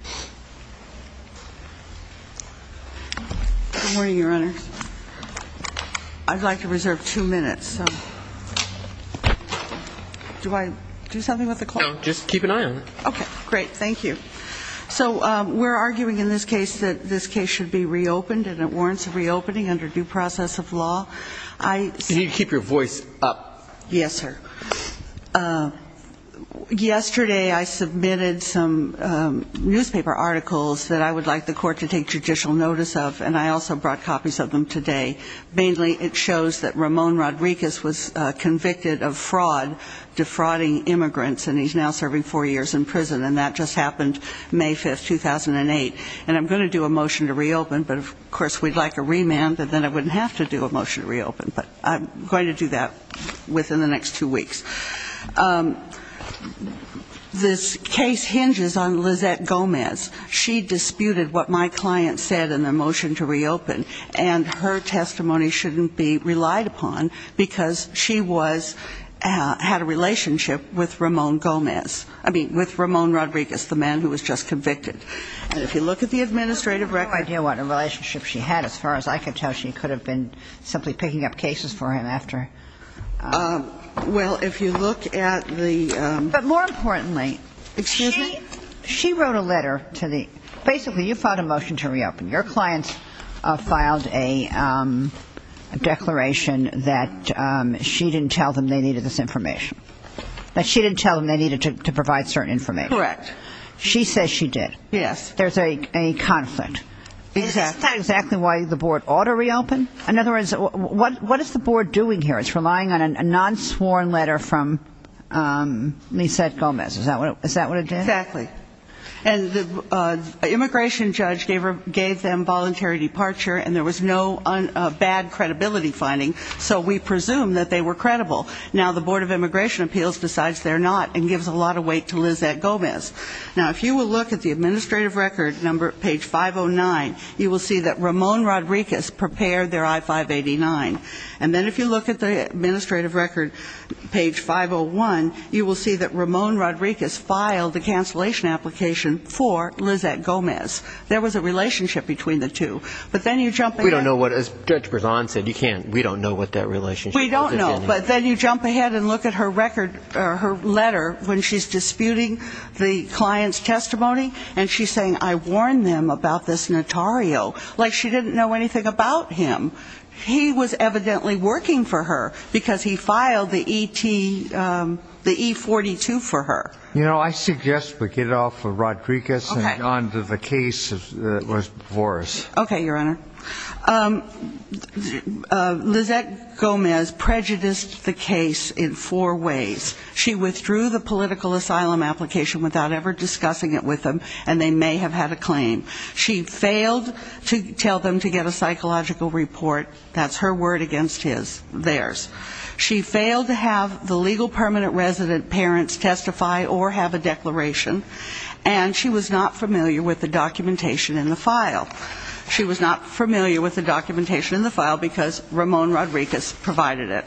Good morning, Your Honors. I'd like to reserve two minutes. Do I do something with the clock? Just keep an eye on it. Okay, great. Thank you. So we're arguing in this case that this case should be reopened and it warrants a reopening under due process of law. You need to keep your voice up. Yes, sir. Yesterday I submitted some newspaper articles that I would like the court to take judicial notice of, and I also brought copies of them today. Mainly it shows that Ramon Rodriguez was convicted of fraud, defrauding immigrants, and he's now serving four years in prison, and that just happened May 5, 2008. And I'm going to do a motion to reopen, but, of course, we'd like a remand, and then I wouldn't have to do a motion to reopen, but I'm going to do that within the next two weeks. This case hinges on Lizette Gomez. She disputed what my client said in the motion to reopen, and her testimony shouldn't be relied upon because she had a relationship with Ramon Gomez, I mean, with Ramon Rodriguez, the man who was just convicted. And if you look at the administrative record ñ I know she could have been simply picking up cases for him after. Well, if you look at the ñ But more importantly, she wrote a letter to the ñ basically you filed a motion to reopen. Your client filed a declaration that she didn't tell them they needed this information, that she didn't tell them they needed to provide certain information. Correct. She says she did. Yes. There's a conflict. Exactly. Is that exactly why the board ought to reopen? In other words, what is the board doing here? It's relying on a non-sworn letter from Lizette Gomez. Is that what it did? Exactly. And the immigration judge gave them voluntary departure, and there was no bad credibility finding, so we presume that they were credible. Now the Board of Immigration Appeals decides they're not, and gives a lot of weight to Lizette Gomez. Now, if you will look at the administrative record, number ñ page 509, you will see that Ramon Rodriguez prepared their I-589. And then if you look at the administrative record, page 501, you will see that Ramon Rodriguez filed the cancellation application for Lizette Gomez. There was a relationship between the two. But then you jump ahead. We don't know what ñ as Judge Berzon said, you can't ñ we don't know what that relationship is. We don't know. But then you jump ahead and look at her record ñ her letter when she's disputing the client's testimony, and she's saying, I warned them about this notario. Like she didn't know anything about him. He was evidently working for her because he filed the E-42 for her. You know, I suggest we get off of Rodriguez and on to the case that was before us. Okay, Your Honor. Lizette Gomez prejudiced the case in four ways. She withdrew the political asylum application without ever discussing it with them, and they may have had a claim. She failed to tell them to get a psychological report. That's her word against his, theirs. She failed to have the legal permanent resident parents testify or have a declaration. And she was not familiar with the documentation in the file. She was not familiar with the documentation in the file because Ramon Rodriguez provided it.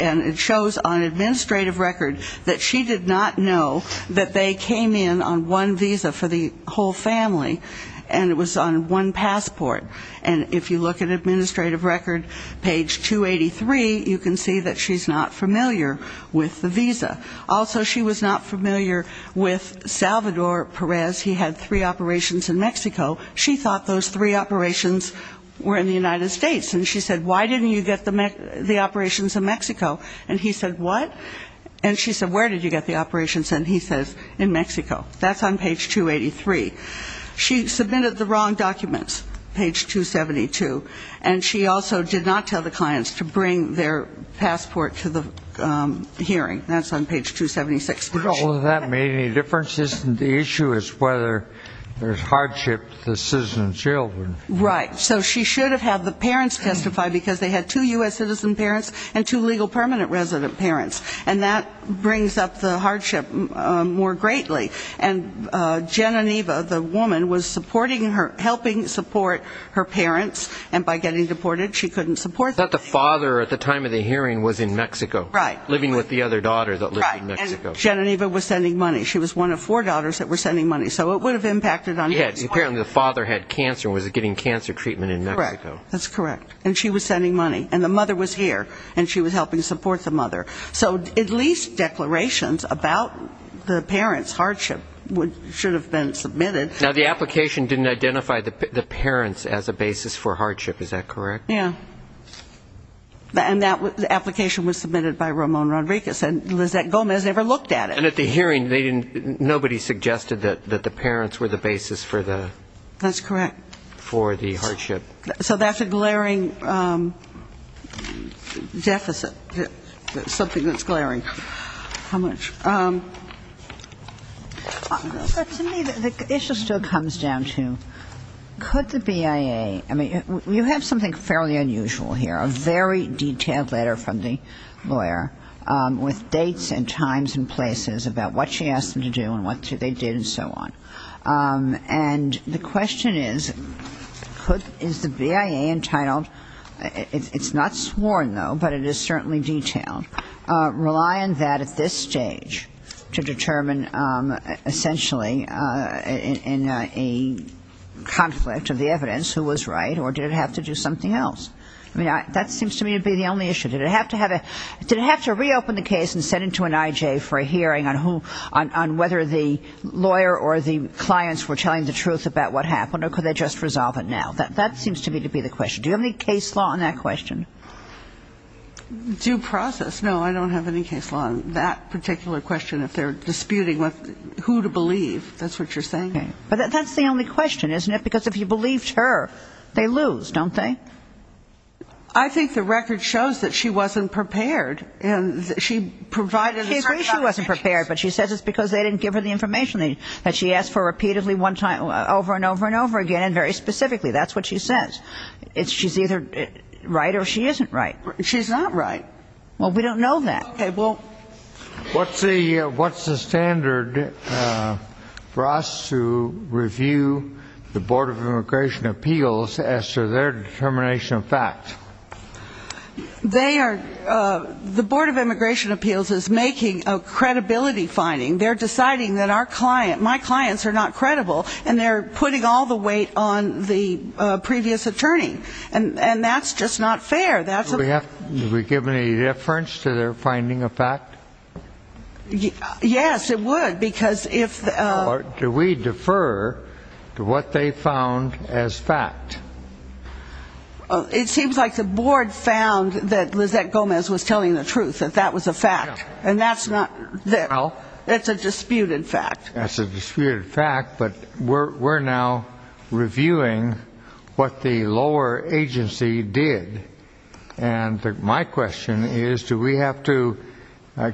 And it shows on administrative record that she did not know that they came in on one visa for the whole family, and it was on one passport. And if you look at administrative record page 283, you can see that she's not familiar with the visa. Also, she was not familiar with Salvador Perez. He had three operations in Mexico. She thought those three operations were in the United States. And she said, why didn't you get the operations in Mexico? And he said, what? And she said, where did you get the operations? And he says, in Mexico. That's on page 283. She submitted the wrong documents, page 272. And she also did not tell the clients to bring their passport to the hearing. That's on page 276. Did all of that make any difference? The issue is whether there's hardship to the citizen's children. Right. So she should have had the parents testify because they had two U.S. citizen parents and two legal permanent resident parents. And that brings up the hardship more greatly. And Geniniva, the woman, was supporting her, helping support her parents. And by getting deported, she couldn't support them. But the father at the time of the hearing was in Mexico. Right. Living with the other daughter that lived in Mexico. Geniniva was sending money. She was one of four daughters that were sending money. So it would have impacted on his money. Apparently the father had cancer and was getting cancer treatment in Mexico. That's correct. And she was sending money. And the mother was here. And she was helping support the mother. So at least declarations about the parents' hardship should have been submitted. Now, the application didn't identify the parents as a basis for hardship. Is that correct? Yeah. And the application was submitted by Ramon Rodriguez. And Lizette Gomez never looked at it. And at the hearing, nobody suggested that the parents were the basis for the hardship. That's correct. So that's a glaring deficit, something that's glaring. How much? To me, the issue still comes down to, could the BIA, I mean, you have something fairly unusual here, a very detailed letter from the lawyer with dates and times and places about what she asked them to do and what they did and so on. And the question is, is the BIA entitled, it's not sworn, though, but it is certainly detailed, rely on that at this stage to determine essentially in a conflict of the evidence who was right or did it have to do something else? I mean, that seems to me to be the only issue. Did it have to reopen the case and send it to an IJ for a hearing on whether the lawyer or the clients were telling the truth about what happened or could they just resolve it now? That seems to me to be the question. Do you have any case law on that question? Due process, no, I don't have any case law on that particular question. If they're disputing who to believe, that's what you're saying. But that's the only question, isn't it? Because if you believed her, they lose, don't they? I think the record shows that she wasn't prepared. She provided a certain amount of evidence. She wasn't prepared, but she says it's because they didn't give her the information that she asked for repeatedly over and over and over again and very specifically. That's what she says. She's either right or she isn't right. She's not right. Well, we don't know that. What's the standard for us to review the Board of Immigration Appeals as to their determination of fact? The Board of Immigration Appeals is making a credibility finding. They're deciding that my clients are not credible, and they're putting all the weight on the previous attorney, and that's just not fair. Do we give any deference to their finding of fact? Yes, it would, because if the – Or do we defer to what they found as fact? It seems like the Board found that Lizette Gomez was telling the truth, that that was a fact. And that's not – it's a disputed fact. That's a disputed fact, but we're now reviewing what the lower agency did. And my question is, do we have to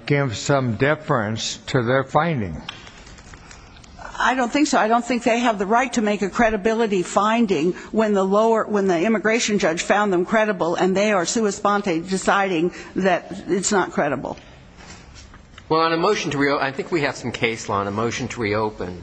give some deference to their finding? I don't think so. I don't think they have the right to make a credibility finding when the lower – when the immigration judge found them credible, and they are sua sponte deciding that it's not credible. Well, on a motion to – I think we have some case law on a motion to reopen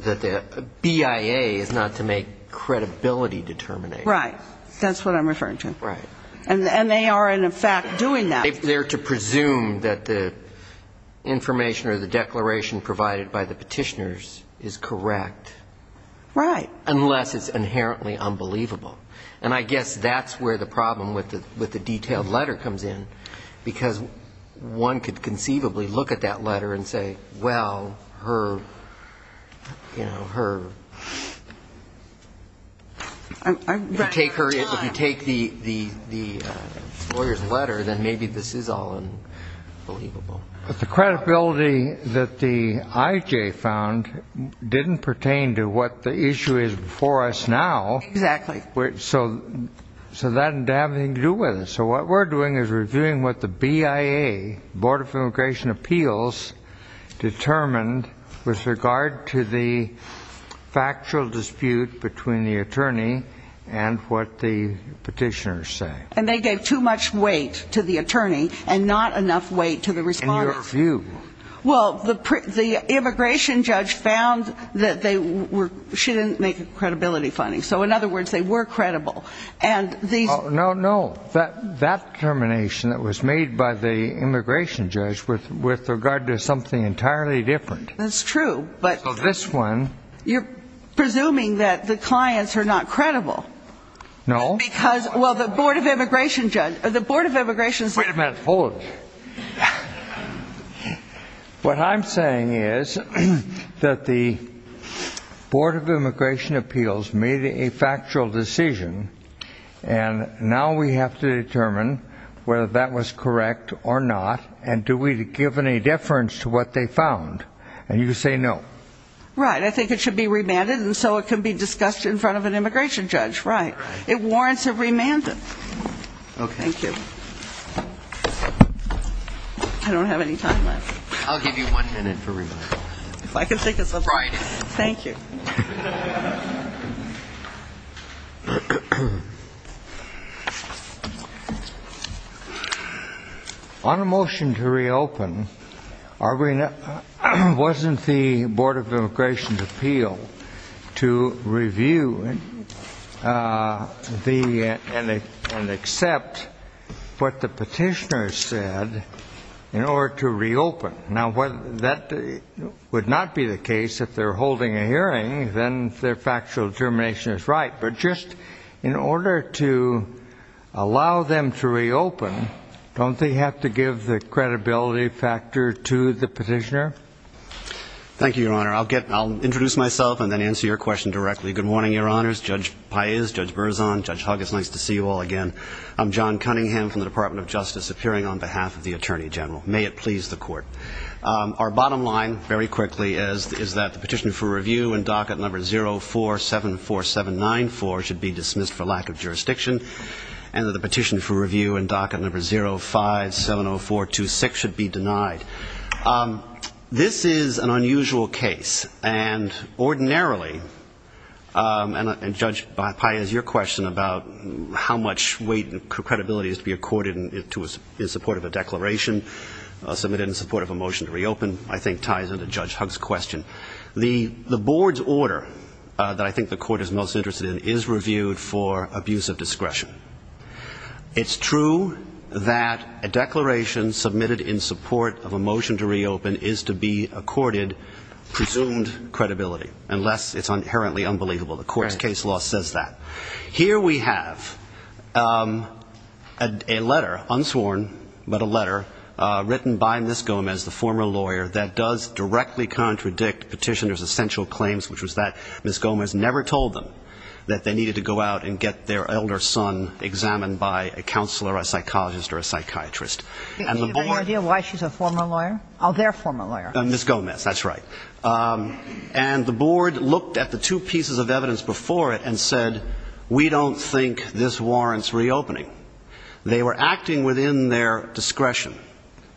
that the BIA is not to make credibility determinations. Right. That's what I'm referring to. Right. And they are, in effect, doing that. They're to presume that the information or the declaration provided by the petitioners is correct. Right. Unless it's inherently unbelievable. And I guess that's where the problem with the detailed letter comes in, because one could conceivably look at that letter and say, well, her, you know, her. If you take the lawyer's letter, then maybe this is all unbelievable. But the credibility that the IJ found didn't pertain to what the issue is before us now. Exactly. So that didn't have anything to do with it. So what we're doing is reviewing what the BIA, Board of Immigration Appeals, determined with regard to the factual dispute between the attorney and what the petitioners say. And they gave too much weight to the attorney and not enough weight to the respondent. In your view. Well, the immigration judge found that they were – she didn't make a credibility finding. So, in other words, they were credible. No, no. That determination that was made by the immigration judge with regard to something entirely different. That's true. So this one – You're presuming that the clients are not credible. No. Because, well, the Board of Immigration judge – the Board of Immigration – Wait a minute. Hold it. What I'm saying is that the Board of Immigration Appeals made a factual decision and now we have to determine whether that was correct or not and do we give any deference to what they found. And you say no. Right. I think it should be remanded and so it can be discussed in front of an immigration judge. Right. It warrants a remand. Okay. Thank you. I don't have any time left. I'll give you one minute for remand. If I can take this off. Friday. Thank you. On a motion to reopen, wasn't the Board of Immigration's appeal to review and accept what the petitioner said in order to reopen? Now, that would not be the case if they're holding a hearing. Then their factual determination is right. But just in order to allow them to reopen, don't they have to give the credibility factor to the petitioner? Thank you, Your Honor. I'll introduce myself and then answer your question directly. Good morning, Your Honors. Judge Paez, Judge Berzon, Judge Huggins, nice to see you all again. I'm John Cunningham from the Department of Justice appearing on behalf of the Attorney General. May it please the Court. Our bottom line, very quickly, is that the petition for review in docket number 0474794 should be dismissed for lack of jurisdiction and that the petition for review in docket number 0570426 should be denied. This is an unusual case. And ordinarily, and Judge Paez, your question about how much weight and credibility is to be accorded in support of a declaration submitted in support of a motion to reopen, I think ties into Judge Huggins' question. The Board's order that I think the Court is most interested in is reviewed for abuse of discretion. It's true that a declaration submitted in support of a motion to reopen is to be accorded presumed credibility, unless it's inherently unbelievable. The Court's case law says that. Here we have a letter, unsworn, but a letter written by Ms. Gomez, the former lawyer, that does directly contradict petitioner's essential claims, which was that Ms. Gomez never told them that they needed to go out and get their elder son examined by a counselor, a psychologist, or a psychiatrist. Do you have any idea why she's a former lawyer? Oh, their former lawyer. Ms. Gomez, that's right. And the Board looked at the two pieces of evidence before it and said, we don't think this warrants reopening. They were acting within their discretion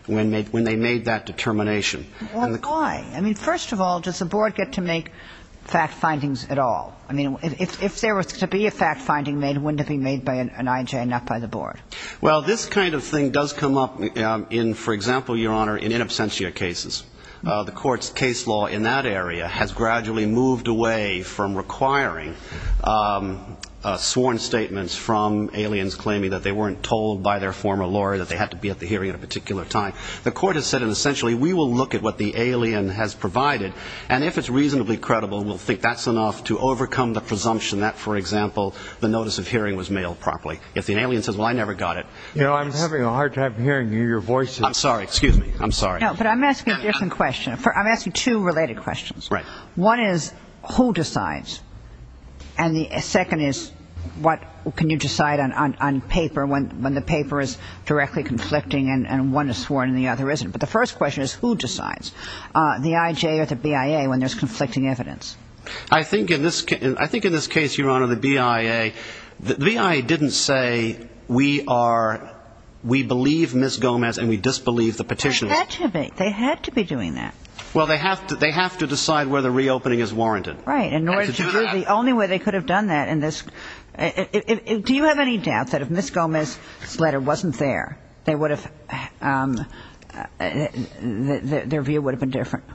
when they made that determination. Why? I mean, first of all, does the Board get to make fact findings at all? I mean, if there was to be a fact finding made, wouldn't it be made by an IJ and not by the Board? Well, this kind of thing does come up in, for example, Your Honor, in in absentia cases. The Court's case law in that area has gradually moved away from requiring sworn statements from aliens claiming that they weren't told by their former lawyer that they had to be at the hearing at a particular time. The Court has said, essentially, we will look at what the alien has provided, and if it's reasonably credible, we'll think that's enough to overcome the presumption that, for example, the notice of hearing was mailed properly. If the alien says, well, I never got it. You know, I'm having a hard time hearing your voice. I'm sorry. Excuse me. I'm sorry. No, but I'm asking a different question. I'm asking two related questions. Right. One is, who decides? And the second is, what can you decide on paper when the paper is directly conflicting and one is sworn and the other isn't? But the first question is, who decides? The I.J. or the B.I.A. when there's conflicting evidence? I think in this case, Your Honor, the B.I.A. The B.I.A. didn't say, we believe Ms. Gomez and we disbelieve the petitions. They had to be. They had to be doing that. Well, they have to decide whether reopening is warranted. Right. In order to do that. The only way they could have done that in this. Do you have any doubt that if Ms. Gomez's letter wasn't there, their view would have been different?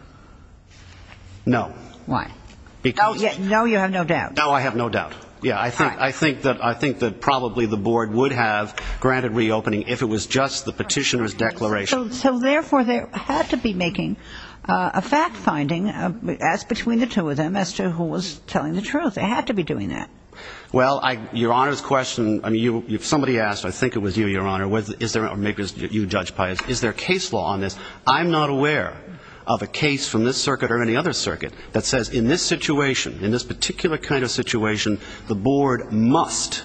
No. Why? No, you have no doubt. No, I have no doubt. Yeah. I think that probably the board would have granted reopening if it was just the petitioner's declaration. So, therefore, they had to be making a fact-finding as between the two of them as to who was telling the truth. They had to be doing that. Well, Your Honor's question, I mean, if somebody asked, I think it was you, Your Honor, or maybe it was you, Judge Pius, is there a case law on this? I'm not aware of a case from this circuit or any other circuit that says in this situation, in this particular kind of situation, the board must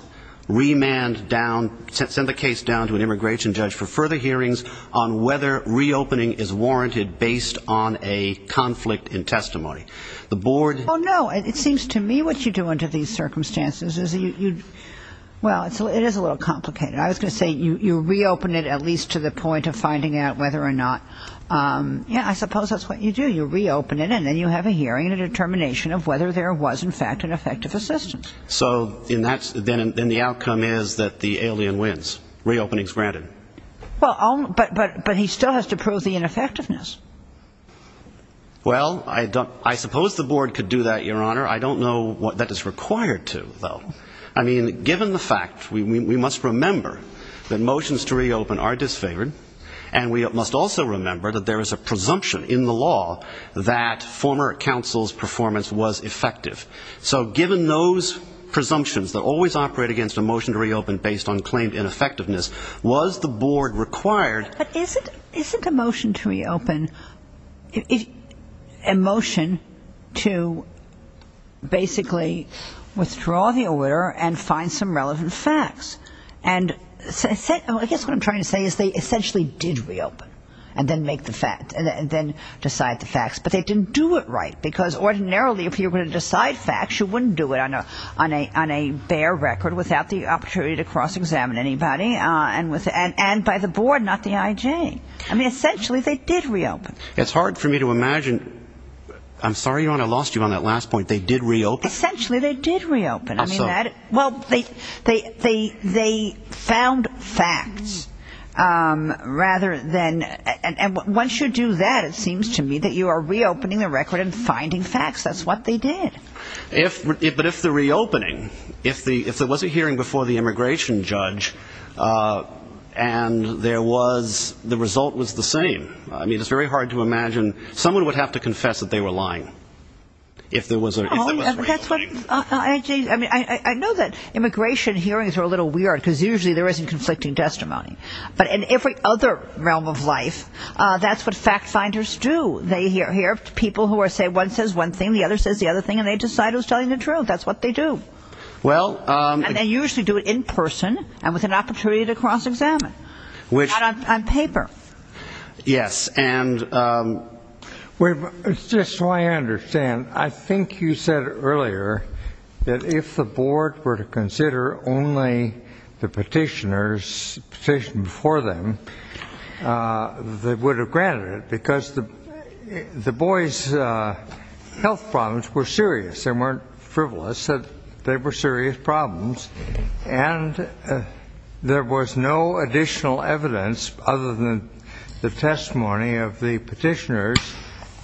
remand down, send the case down to an immigration judge for further hearings on whether reopening is warranted based on a conflict in testimony. The board. Oh, no. It seems to me what you do under these circumstances is you, well, it is a little complicated. I was going to say you reopen it at least to the point of finding out whether or not, yeah, I suppose that's what you do. You reopen it, and then you have a hearing and a determination of whether there was, in fact, an effective assistance. So then the outcome is that the alien wins. Reopening is granted. Well, but he still has to prove the ineffectiveness. Well, I suppose the board could do that, Your Honor. I don't know what that is required to, though. I mean, given the fact we must remember that motions to reopen are disfavored, and we must also remember that there is a presumption in the law that former counsel's performance was effective. So given those presumptions that always operate against a motion to reopen based on claimed ineffectiveness, was the board required. But isn't a motion to reopen a motion to basically withdraw the order and find some relevant facts? And I guess what I'm trying to say is they essentially did reopen and then decide the facts, but they didn't do it right, because ordinarily if you were going to decide facts, you wouldn't do it on a bare record without the opportunity to cross-examine anybody, and by the board, not the IJ. I mean, essentially they did reopen. It's hard for me to imagine. I'm sorry, Your Honor, I lost you on that last point. They did reopen? Essentially they did reopen. Well, they found facts rather than, and once you do that, it seems to me that you are reopening the record and finding facts. That's what they did. But if the reopening, if there was a hearing before the immigration judge and the result was the same, I mean, it's very hard to imagine someone would have to confess that they were lying if there was a reopening. I know that immigration hearings are a little weird because usually there isn't conflicting testimony, but in every other realm of life, that's what fact-finders do. They hear people who say one says one thing, the other says the other thing, and they decide who's telling the truth. That's what they do. And they usually do it in person and with an opportunity to cross-examine, not on paper. Yes. Just so I understand, I think you said earlier that if the board were to consider only the petitioners, the petition before them, they would have granted it because the boys' health problems were serious. They weren't frivolous. They were serious problems, and there was no additional evidence other than the testimony of the petitioners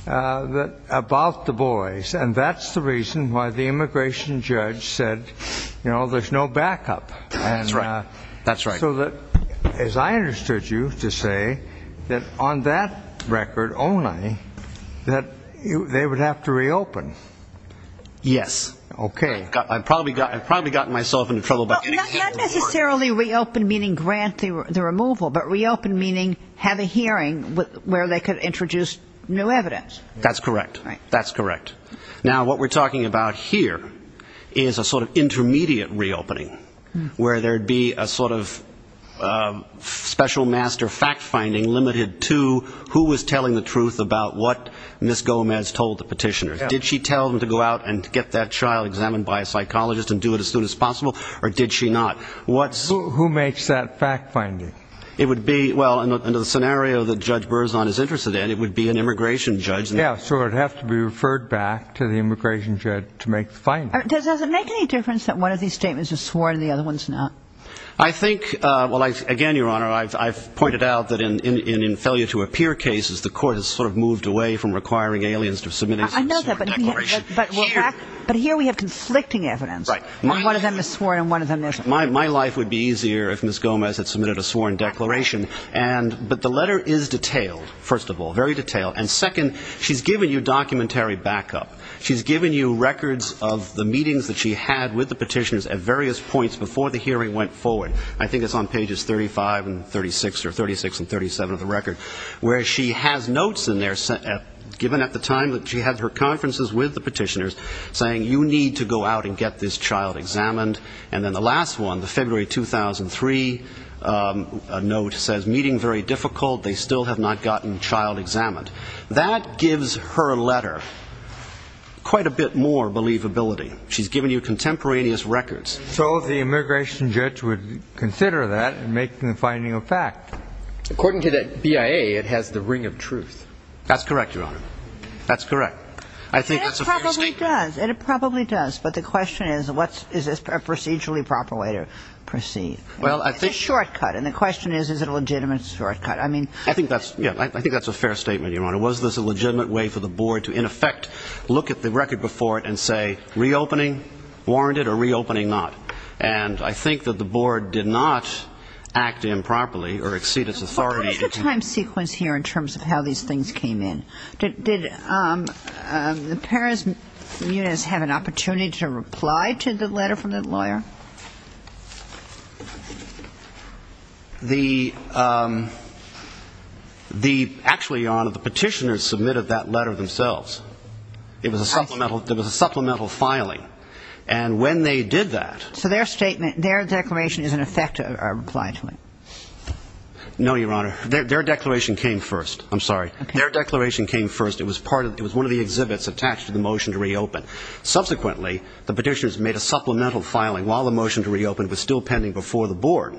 about the boys. And that's the reason why the immigration judge said, you know, there's no backup. That's right. So as I understood you to say, that on that record only, that they would have to reopen. Yes. Okay. I've probably gotten myself into trouble. Not necessarily reopen meaning grant the removal, but reopen meaning have a hearing where they could introduce new evidence. That's correct. That's correct. Now, what we're talking about here is a sort of intermediate reopening where there would be a sort of special master fact-finding limited to who was telling the truth about what Ms. Gomez told the petitioners. Did she tell them to go out and get that child examined by a psychologist and do it as soon as possible, or did she not? Who makes that fact-finding? It would be, well, under the scenario that Judge Berzon is interested in, it would be an immigration judge. Yeah, so it would have to be referred back to the immigration judge to make the finding. Does it make any difference that one of these statements is sworn and the other one's not? I think, well, again, Your Honor, I've pointed out that in failure-to-appear cases, the court has sort of moved away from requiring aliens to submit a sworn declaration. I know that, but here we have conflicting evidence. Right. One of them is sworn and one of them isn't. My life would be easier if Ms. Gomez had submitted a sworn declaration. But the letter is detailed, first of all, very detailed. And second, she's given you documentary backup. She's given you records of the meetings that she had with the petitioners at various points before the hearing went forward. I think it's on pages 35 and 36 or 36 and 37 of the record, where she has notes in there given at the time that she had her conferences with the petitioners, saying you need to go out and get this child examined. And then the last one, the February 2003 note says, meeting very difficult, they still have not gotten child examined. That gives her letter quite a bit more believability. She's given you contemporaneous records. So the immigration judge would consider that and make the finding a fact. According to the BIA, it has the ring of truth. That's correct, Your Honor. That's correct. I think that's a fair statement. It does, and it probably does. But the question is, is this a procedurally proper way to proceed? It's a shortcut. And the question is, is it a legitimate shortcut? I think that's a fair statement, Your Honor. Was this a legitimate way for the board to, in effect, look at the record before it and say, reopening warranted or reopening not? And I think that the board did not act improperly or exceed its authority. What is the time sequence here in terms of how these things came in? Did the parents' units have an opportunity to reply to the letter from the lawyer? Actually, Your Honor, the petitioners submitted that letter themselves. There was a supplemental filing. And when they did that ---- So their statement, their declaration is, in effect, a reply to it? No, Your Honor. Their declaration came first. I'm sorry. Their declaration came first. It was one of the exhibits attached to the motion to reopen. Subsequently, the petitioners made a supplemental filing while the motion to reopen was still pending before the board.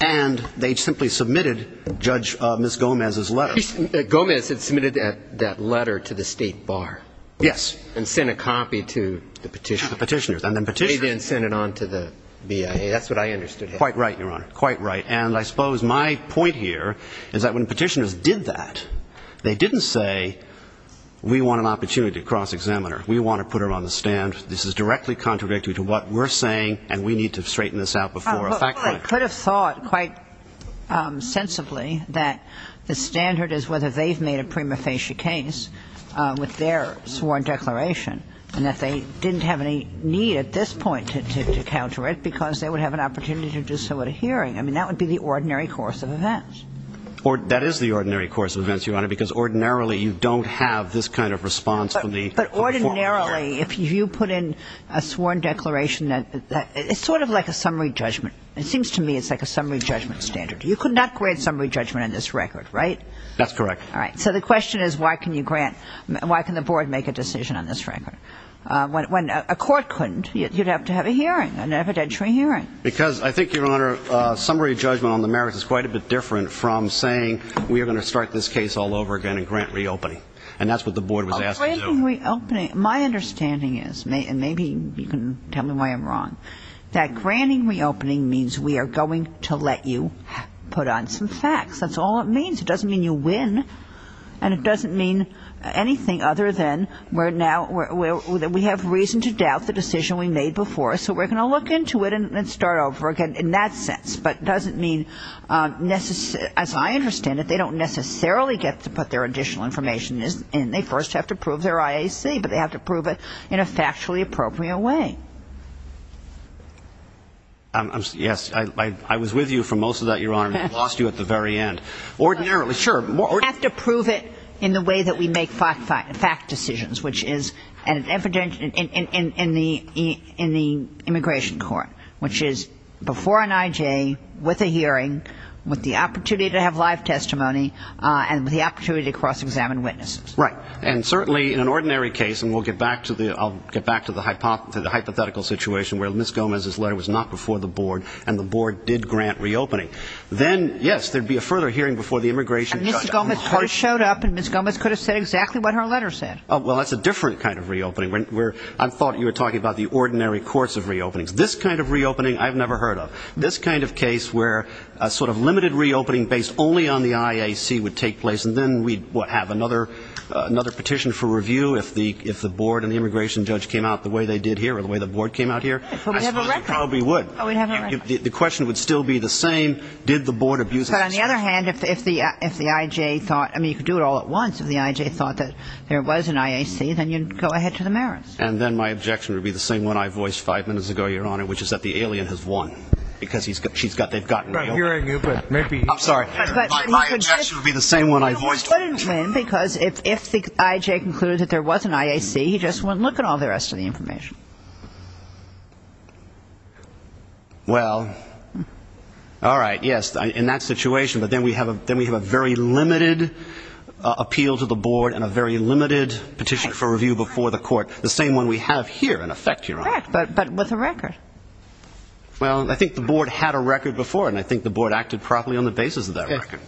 And they simply submitted Judge Ms. Gomez's letter. Gomez had submitted that letter to the State Bar. Yes. And sent a copy to the petitioners. The petitioners. And then petitioners. They then sent it on to the BIA. That's what I understood. Quite right, Your Honor. Quite right. And I suppose my point here is that when petitioners did that, they didn't say, we want an opportunity to cross-examine her. We want to put her on the stand. This is directly contradictory to what we're saying, and we need to straighten this out before a fact check. Well, I could have thought quite sensibly that the standard is whether they've made a prima facie case with their sworn declaration, and that they didn't have any need at this point to counter it because they would have an opportunity to do so at a hearing. I mean, that would be the ordinary course of events. That is the ordinary course of events, Your Honor, because ordinarily you don't have this kind of response from the court. But ordinarily, if you put in a sworn declaration, it's sort of like a summary judgment. It seems to me it's like a summary judgment standard. You could not grant summary judgment on this record, right? That's correct. All right. So the question is, why can the board make a decision on this record? When a court couldn't, you'd have to have a hearing, an evidentiary hearing. Because I think, Your Honor, summary judgment on the merits is quite a bit different from saying we are going to start this case all over again and grant reopening, and that's what the board was asked to do. Granting reopening, my understanding is, and maybe you can tell me why I'm wrong, that granting reopening means we are going to let you put on some facts. That's all it means. It doesn't mean you win, and it doesn't mean anything other than we have reason to doubt the decision we made before, so we're going to look into it and start over again in that sense. But it doesn't mean, as I understand it, they don't necessarily get to put their additional information in. They first have to prove their IAC, but they have to prove it in a factually appropriate way. Yes, I was with you for most of that, Your Honor, and I lost you at the very end. Ordinarily, sure. We have to prove it in the way that we make fact decisions, which is evident in the immigration court, which is before an IJ, with a hearing, with the opportunity to have live testimony, and with the opportunity to cross-examine witnesses. Right. And certainly in an ordinary case, and I'll get back to the hypothetical situation where Ms. Gomez's letter was not before the board and the board did grant reopening, then, yes, there would be a further hearing before the immigration judge. But Mr. Gomez first showed up, and Ms. Gomez could have said exactly what her letter said. Well, that's a different kind of reopening. I thought you were talking about the ordinary course of reopenings. This kind of reopening, I've never heard of. This kind of case where a sort of limited reopening based only on the IAC would take place, and then we'd have another petition for review if the board and the immigration judge came out the way they did here, or the way the board came out here. We'd have a record. We would. The question would still be the same. Did the board abuse access? But on the other hand, if the IJ thought, I mean, you could do it all at once, if the IJ thought that there was an IAC, then you'd go ahead to the merits. And then my objection would be the same one I voiced five minutes ago, Your Honor, which is that the alien has won because she's got, they've gotten real. I'm sorry. My objection would be the same one I voiced five minutes ago. Because if the IJ concluded that there was an IAC, he just wouldn't look at all the rest of the information. Well, all right, yes, in that situation. But then we have a very limited appeal to the board and a very limited petition for review before the court, the same one we have here in effect, Your Honor. Correct. But with a record. Well, I think the board had a record before, and I think the board acted properly on the basis of that record.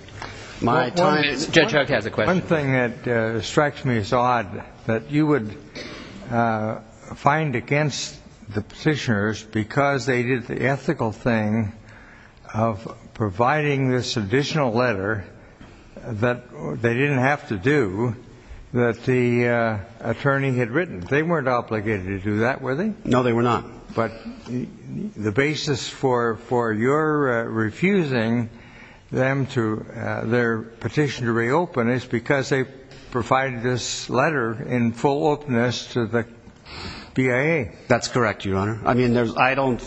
Judge Huck has a question. One thing that strikes me as odd that you would find against the petitioners because they did the ethical thing of providing this additional letter that they didn't have to do that the attorney had written. They weren't obligated to do that, were they? No, they were not. But the basis for your refusing them to, their petition to reopen is because they provided this letter in full openness to the BIA. That's correct, Your Honor. I mean, I don't,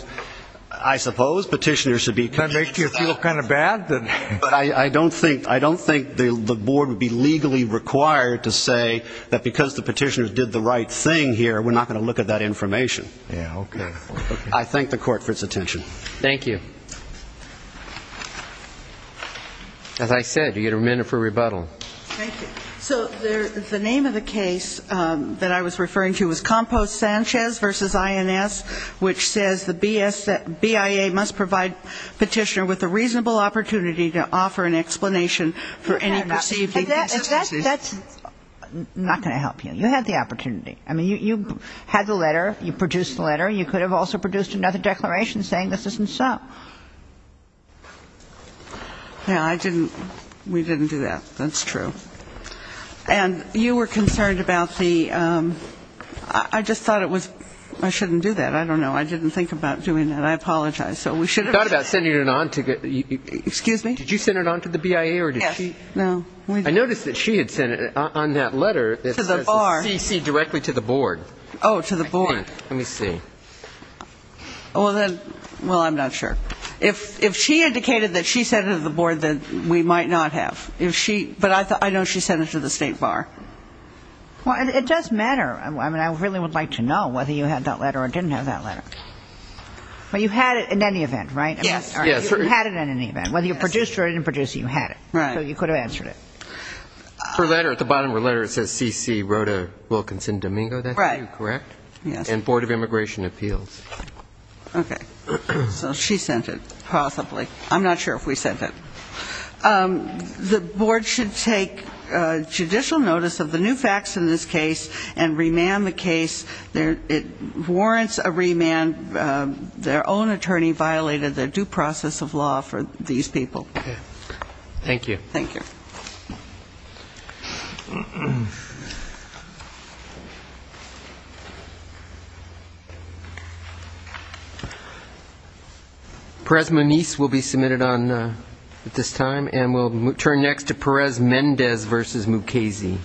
I suppose petitioners should be. Does that make you feel kind of bad? I don't think the board would be legally required to say that because the petitioners did the right thing here, we're not going to look at that information. Yeah, okay. I thank the court for its attention. Thank you. As I said, you get a minute for rebuttal. Thank you. So the name of the case that I was referring to was Compost-Sanchez v. INS, which says the BIA must provide petitioner with a reasonable opportunity to offer an explanation for any perceived. That's not going to help you. You had the opportunity. I mean, you had the letter. You produced the letter. You could have also produced another declaration saying this isn't so. Yeah, I didn't, we didn't do that. That's true. And you were concerned about the, I just thought it was, I shouldn't do that. I don't know. I didn't think about doing that. I apologize. So we should have. I thought about sending it on. Excuse me? Did you send it on to the BIA or did she? No. I noticed that she had sent it on that letter that says CC directly to the board. Oh, to the board. Let me see. Well, then, well, I'm not sure. If she indicated that she sent it to the board, then we might not have. If she, but I know she sent it to the state bar. It does matter. I mean, I really would like to know whether you had that letter or didn't have that letter. But you had it in any event, right? Yes. You had it in any event. Whether you produced it or didn't produce it, you had it. Right. So you could have answered it. Her letter, at the bottom of her letter, it says CC wrote a Wilkinson-Domingo. That's you, correct? Right. Yes. And Board of Immigration Appeals. Okay. So she sent it, possibly. I'm not sure if we sent it. The board should take judicial notice of the new facts in this case and remand the case. It warrants a remand. Their own attorney violated the due process of law for these people. Okay. Thank you. Thank you. Perez-Meniz will be submitted at this time. And we'll turn next to Perez-Mendez v. Mukasey.